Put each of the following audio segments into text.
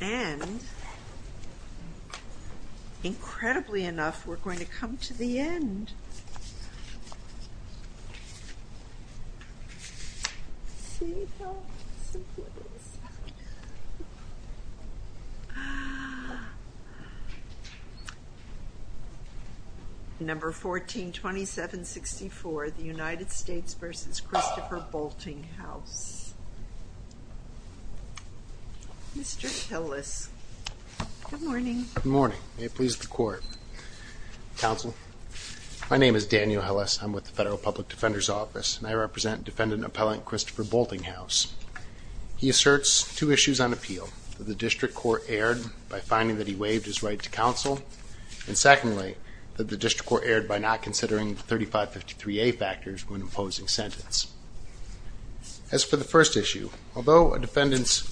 And, incredibly enough, we're going to come to the end. Let's see how simple it is. Number 142764, the United States v. Christopher Boultinghouse. Mr. Hillis. Good morning. Good morning. May it please the Court. Counsel, my name is Daniel Hillis. I'm with the Federal Public Defender's Office, and I represent Defendant Appellant Christopher Boultinghouse. He asserts two issues on appeal, that the district court erred by finding that he waived his right to counsel, and secondly, that the district court erred by not considering the 3553A factors when imposing sentence. As for the first issue, although a defendant's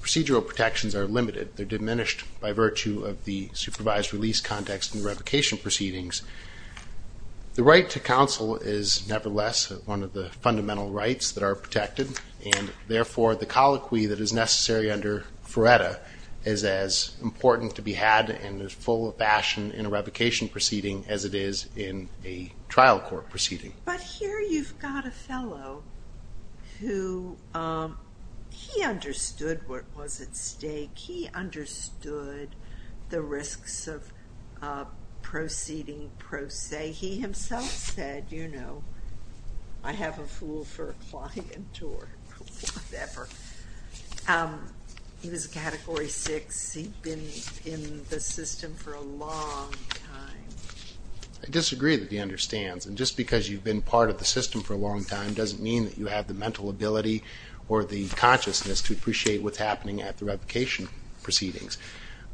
procedural protections are limited, they're diminished by virtue of the supervised release context and revocation proceedings, the right to counsel is nevertheless one of the fundamental rights that are protected, and therefore the colloquy that is necessary under FRERTA is as important to be had and as full of fashion in a revocation proceeding as it is in a trial court proceeding. But here you've got a fellow who, he understood what was at stake. He understood the risks of proceeding pro se. He himself said, you know, I have a fool for a client or whatever. He was a Category 6. He'd been in the system for a long time. I disagree that he understands, and just because you've been part of the system for a long time doesn't mean that you have the mental ability or the consciousness to appreciate what's happening at the revocation proceedings.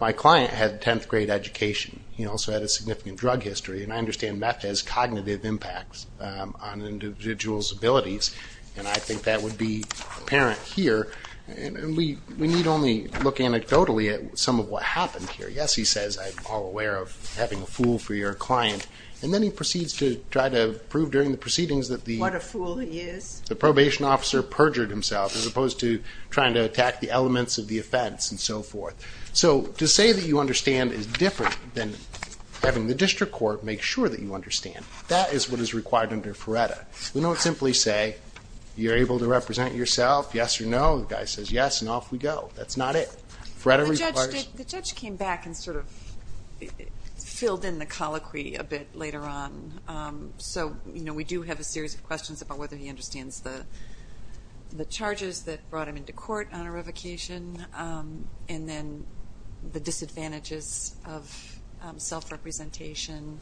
My client had 10th grade education. He also had a significant drug history, and I understand that has cognitive impacts on an individual's abilities, and I think that would be apparent here. We need only look anecdotally at some of what happened here. Yes, he says, I'm all aware of having a fool for your client, and then he proceeds to try to prove during the proceedings that the ---- What a fool he is. The probation officer perjured himself as opposed to trying to attack the elements of the offense and so forth. So to say that you understand is different than having the district court make sure that you understand. That is what is required under FRERTA. We don't simply say you're able to represent yourself, yes or no. The guy says yes, and off we go. That's not it. FRERTA requires ---- The judge came back and sort of filled in the colloquy a bit later on. We do have a series of questions about whether he understands the charges that brought him into court on a revocation, and then the disadvantages of self-representation,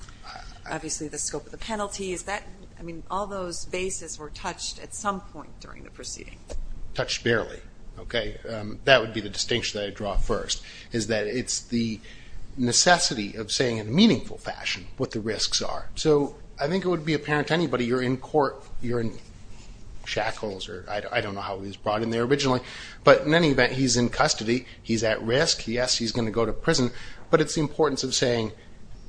obviously the scope of the penalties. All those bases were touched at some point during the proceeding. Touched barely. That would be the distinction that I draw first, is that it's the necessity of saying in a meaningful fashion what the risks are. So I think it would be apparent to anybody, you're in court, you're in shackles, or I don't know how he was brought in there originally, but in any event, he's in custody. He's at risk. Yes, he's going to go to prison, but it's the importance of saying,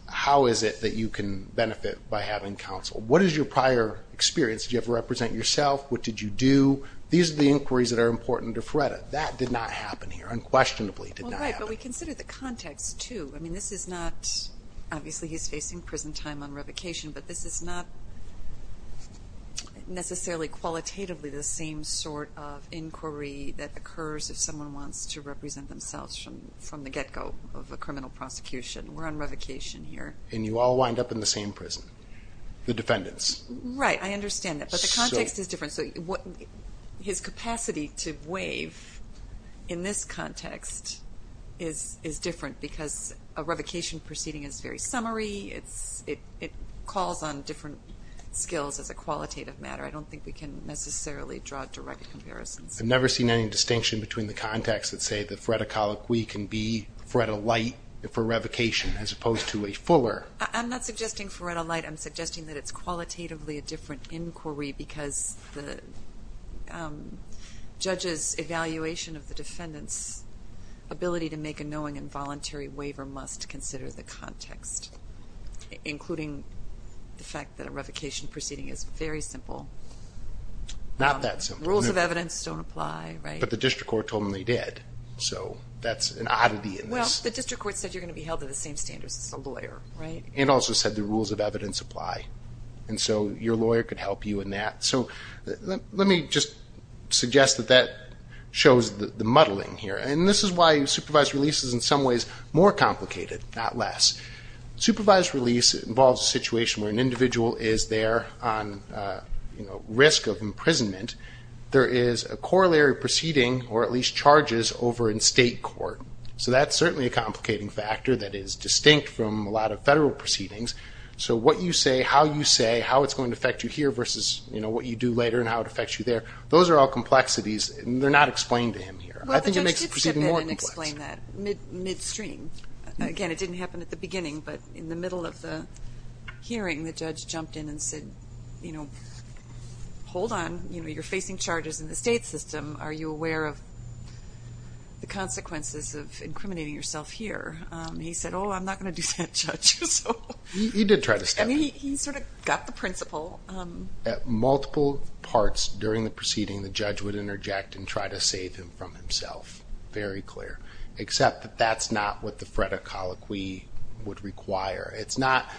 how is it that you can benefit by having counsel? What is your prior experience? Did you ever represent yourself? What did you do? These are the inquiries that are important to FRERTA. That did not happen here, unquestionably did not happen. Well, right, but we consider the context, too. I mean, this is not, obviously he's facing prison time on revocation, but this is not necessarily qualitatively the same sort of inquiry that occurs if someone wants to represent themselves from the get-go of a criminal prosecution. We're on revocation here. And you all wind up in the same prison, the defendants. Right, I understand that, but the context is different. His capacity to waive in this context is different because a revocation proceeding is very summary. It calls on different skills as a qualitative matter. I don't think we can necessarily draw direct comparisons. I've never seen any distinction between the context that say the FRERTA colloquy can be FRERTA-lite for revocation as opposed to a fuller. I'm not suggesting FRERTA-lite. I'm suggesting that it's qualitatively a different inquiry because the judge's evaluation of the defendant's ability to make a knowing and voluntary waiver must consider the context, including the fact that a revocation proceeding is very simple. Not that simple. Rules of evidence don't apply, right? But the district court told them they did, so that's an oddity in this. Well, the district court said you're going to be held to the same standards as a lawyer, right? It also said the rules of evidence apply, and so your lawyer could help you in that. Let me just suggest that that shows the muddling here. This is why supervised release is in some ways more complicated, not less. Supervised release involves a situation where an individual is there on risk of imprisonment. There is a corollary proceeding, or at least charges, over in state court. So that's certainly a complicating factor that is distinct from a lot of federal proceedings. So what you say, how you say, how it's going to affect you here versus what you do later and how it affects you there, those are all complexities, and they're not explained to him here. I think it makes the proceeding more complex. Well, the judge did step in and explain that midstream. Again, it didn't happen at the beginning, but in the middle of the hearing, the judge jumped in and said, hold on, you're facing charges in the state system. Are you aware of the consequences of incriminating yourself here? He said, oh, I'm not going to do that, Judge. He did try to step in. I mean, he sort of got the principle. At multiple parts during the proceeding, the judge would interject and try to save him from himself. Very clear. Except that that's not what the FREDA colloquy would require. It's not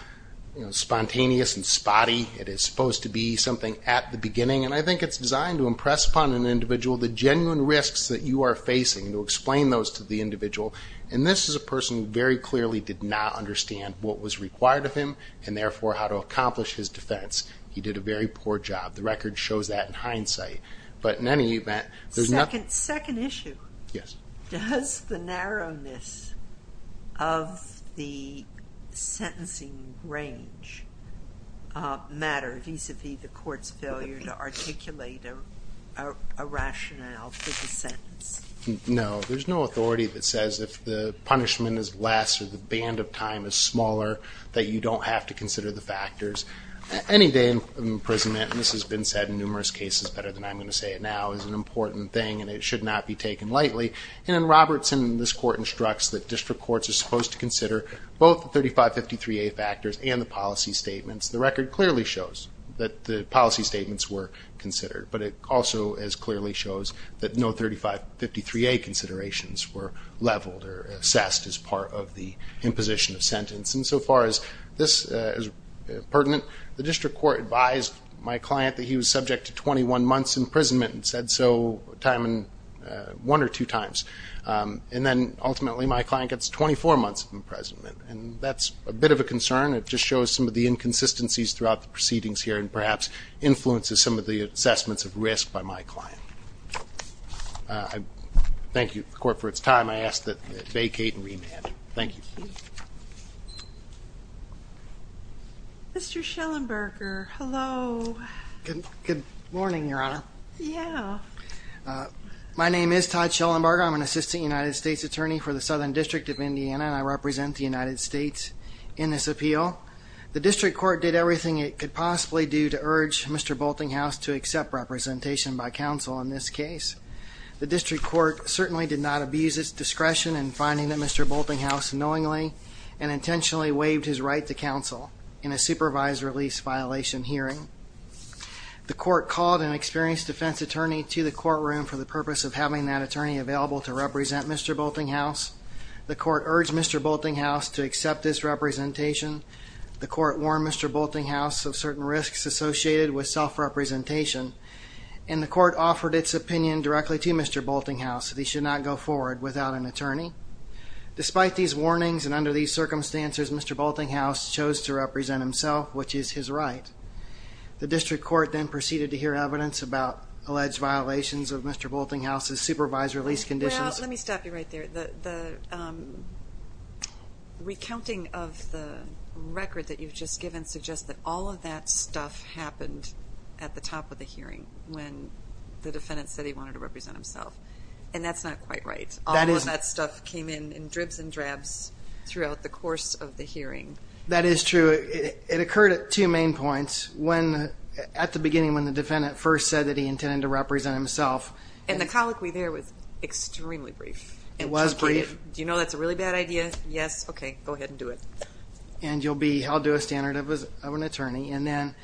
spontaneous and spotty. It is supposed to be something at the beginning, and I think it's designed to impress upon an individual the genuine risks that you are facing and to explain those to the individual. And this is a person who very clearly did not understand what was required of him and therefore how to accomplish his defense. He did a very poor job. The record shows that in hindsight. But in any event, there's nothing. Second issue. Yes. Does the narrowness of the sentencing range matter, vis-à-vis the court's failure to articulate a rationale for the sentence? No. There's no authority that says if the punishment is less or the band of time is smaller, that you don't have to consider the factors. Any day imprisonment, and this has been said in numerous cases better than I'm going to say it now, is an important thing, and it should not be taken lightly. And in Robertson, this court instructs that district courts are supposed to consider both 3553A factors and the policy statements. The record clearly shows that the policy statements were considered, but it also clearly shows that no 3553A considerations were leveled or assessed as part of the imposition of sentence. And so far as this is pertinent, the district court advised my client that he was subject to 21 months' imprisonment and said so one or two times. And then ultimately my client gets 24 months' imprisonment. And that's a bit of a concern. It just shows some of the inconsistencies throughout the proceedings here and perhaps influences some of the assessments of risk by my client. Thank you to the court for its time. I ask that it vacate and remand. Thank you. Mr. Schellenberger, hello. Good morning, Your Honor. Yeah. My name is Todd Schellenberger. I'm an assistant United States attorney for the Southern District of Indiana, and I represent the United States in this appeal. The district court did everything it could possibly do to urge Mr. Boltinghouse to accept representation by counsel in this case. The district court certainly did not abuse its discretion in finding that Mr. Boltinghouse knowingly and intentionally waived his right to counsel in a supervised release violation hearing. The court called an experienced defense attorney to the courtroom for the purpose of having that attorney available to represent Mr. Boltinghouse. The court urged Mr. Boltinghouse to accept this representation. The court warned Mr. Boltinghouse of certain risks associated with self-representation. And the court offered its opinion directly to Mr. Boltinghouse that he should not go forward without an attorney. Despite these warnings and under these circumstances, Mr. Boltinghouse chose to represent himself, which is his right. The district court then proceeded to hear evidence about alleged violations of Mr. Boltinghouse's supervised release conditions. Well, let me stop you right there. The recounting of the record that you've just given suggests that all of that stuff happened at the top of the hearing when the defendant said he wanted to represent himself, and that's not quite right. All of that stuff came in in dribs and drabs throughout the course of the hearing. That is true. It occurred at two main points, at the beginning when the defendant first said that he intended to represent himself. And the colloquy there was extremely brief. It was brief. Do you know that's a really bad idea? Yes? Okay. Go ahead and do it. And you'll be held to a standard of an attorney. And then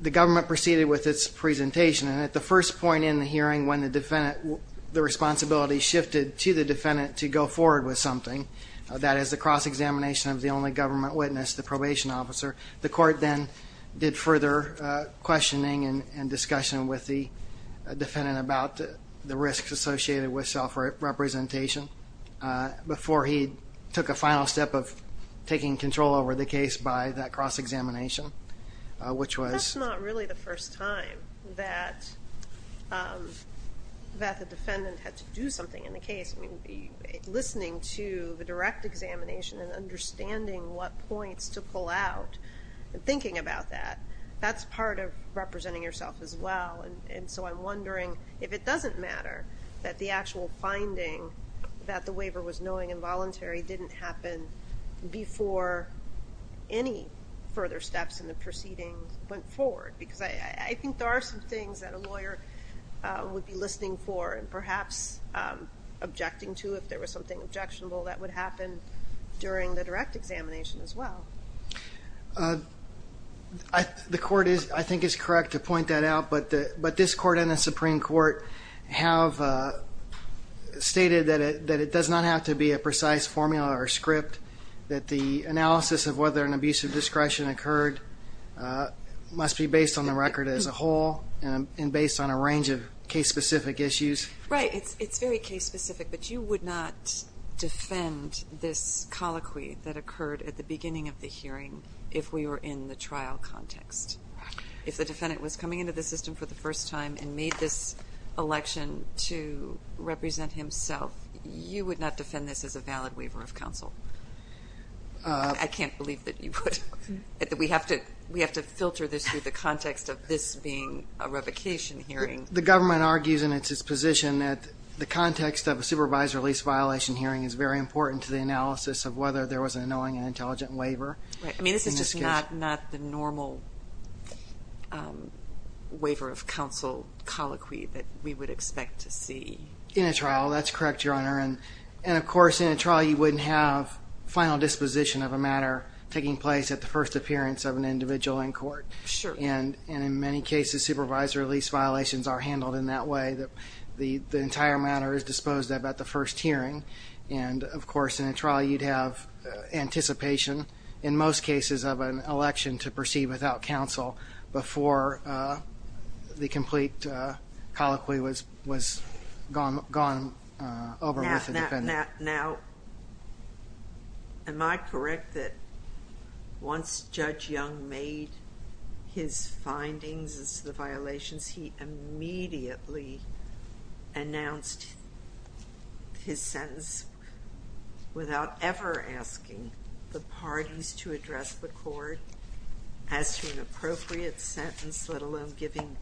the government proceeded with its presentation. And at the first point in the hearing when the responsibility shifted to the defendant to go forward with something, that is the cross-examination of the only government witness, the probation officer, the court then did further questioning and discussion with the defendant about the risks associated with self-representation before he took a final step of taking control over the case by that cross-examination. That's not really the first time that the defendant had to do something in the case. Listening to the direct examination and understanding what points to pull out and thinking about that, that's part of representing yourself as well. And so I'm wondering if it doesn't matter that the actual finding that the waiver was knowing involuntary didn't happen before any further steps in the proceedings went forward. Because I think there are some things that a lawyer would be listening for and perhaps objecting to if there was something objectionable that would happen during the direct examination as well. The court, I think, is correct to point that out. But this Court and the Supreme Court have stated that it does not have to be a precise formula or script, that the analysis of whether an abusive discretion occurred must be based on the record as a whole and based on a range of case-specific issues. Right. It's very case-specific. But you would not defend this colloquy that occurred at the beginning of the hearing if we were in the trial context. If the defendant was coming into the system for the first time and made this election to represent himself, you would not defend this as a valid waiver of counsel. I can't believe that you would. We have to filter this through the context of this being a revocation hearing. The government argues, and it's its position, that the context of a supervised release violation hearing is very important to the analysis of whether there was an annoying and intelligent waiver. Right. I mean, this is just not the normal waiver of counsel colloquy that we would expect to see. In a trial, that's correct, Your Honor. And, of course, in a trial you wouldn't have final disposition of a matter taking place at the first appearance of an individual in court. Sure. And in many cases, supervised release violations are handled in that way, that the entire matter is disposed of at the first hearing. And, of course, in a trial you'd have anticipation, in most cases, of an election to proceed without counsel before the complete colloquy was gone over with the defendant. Now, am I correct that once Judge Young made his findings as to the violations, he immediately announced his sentence without ever asking the parties to address the court as to an appropriate sentence, let alone giving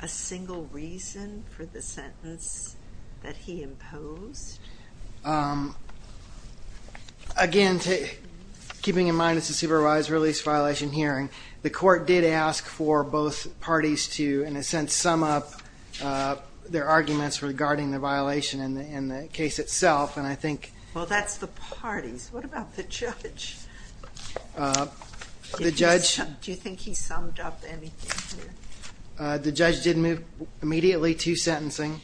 a single reason for the sentence that he imposed? Again, keeping in mind it's a supervised release violation hearing, the court did ask for both parties to, in a sense, sum up their arguments regarding the violation in the case itself. Well, that's the parties. What about the judge? Do you think he summed up anything here? The judge did move immediately to sentencing.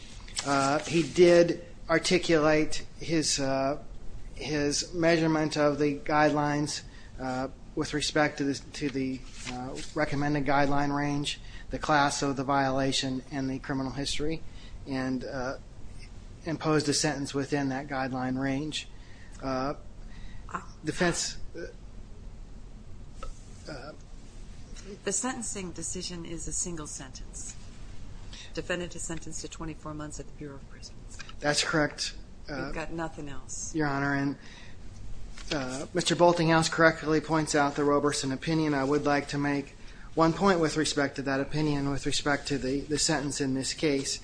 He did articulate his measurement of the guidelines with respect to the recommended guideline range, the class of the violation, and the criminal history, and imposed a sentence within that guideline range. The sentencing decision is a single sentence. Defendant is sentenced to 24 months at the Bureau of Prisons. That's correct. We've got nothing else. Your Honor, and Mr. Boltinghouse correctly points out the Roberson opinion. I would like to make one point with respect to that opinion with respect to the sentence in this case.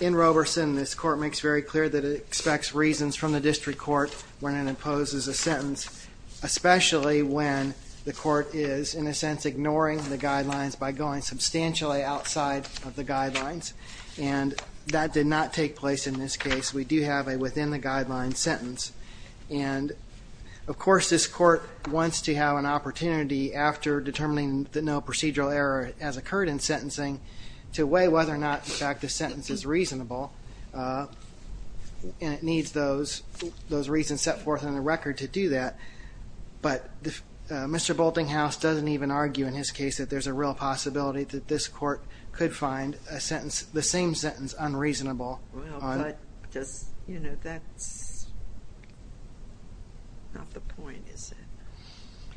In Roberson, this court makes very clear that it expects reasons from the district court when it imposes a sentence, especially when the court is, in a sense, ignoring the guidelines by going substantially outside of the guidelines. And that did not take place in this case. We do have a within-the-guidelines sentence. And, of course, this court wants to have an opportunity after determining that no procedural error has occurred in sentencing to weigh whether or not, in fact, the sentence is reasonable. And it needs those reasons set forth in the record to do that. But Mr. Boltinghouse doesn't even argue in his case that there's a real possibility that this court could find the same sentence unreasonable. Well, but that's not the point, is it?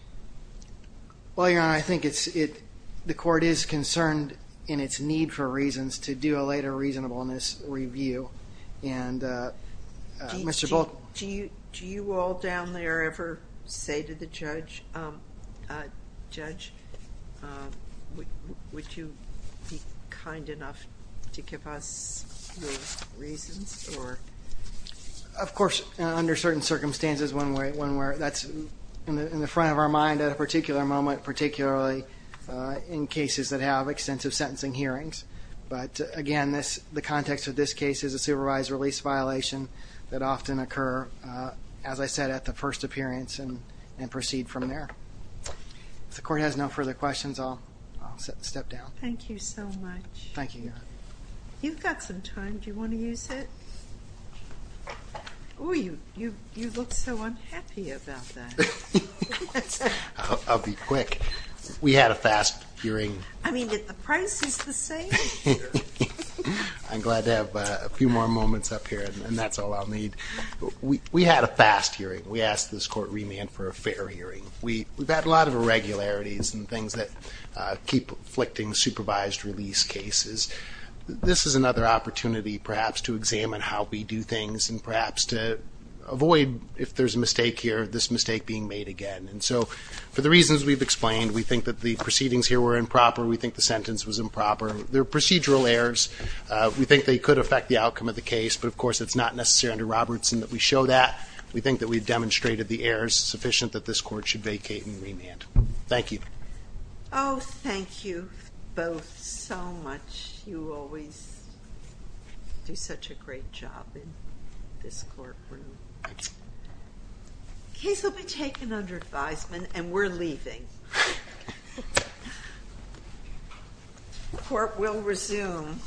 Well, Your Honor, I think the court is concerned in its need for reasons to do a later reasonableness review. And Mr. Boltinghouse. Do you all down there ever say to the judge, Judge, would you be kind enough to give us your reasons? Of course, under certain circumstances, that's in the front of our mind at a particular moment, particularly in cases that have extensive sentencing hearings. But, again, the context of this case is a supervised release violation that often occur, as I said, at the first appearance and proceed from there. If the court has no further questions, I'll step down. Thank you so much. Thank you, Your Honor. You've got some time. Do you want to use it? Oh, you look so unhappy about that. I'll be quick. We had a fast hearing. I mean, but the price is the same. I'm glad to have a few more moments up here, and that's all I'll need. We had a fast hearing. We asked this court remand for a fair hearing. We've had a lot of irregularities and things that keep afflicting supervised release cases. This is another opportunity, perhaps, to examine how we do things and perhaps to avoid, if there's a mistake here, this mistake being made again. And so for the reasons we've explained, we think that the proceedings here were improper. We think the sentence was improper. They're procedural errors. We think they could affect the outcome of the case, but, of course, it's not necessary under Robertson that we show that. We think that we've demonstrated the errors sufficient that this court should vacate and remand. Thank you. Oh, thank you both so much. You always do such a great job in this courtroom. The case will be taken under advisement, and we're leaving. Court will resume tomorrow morning.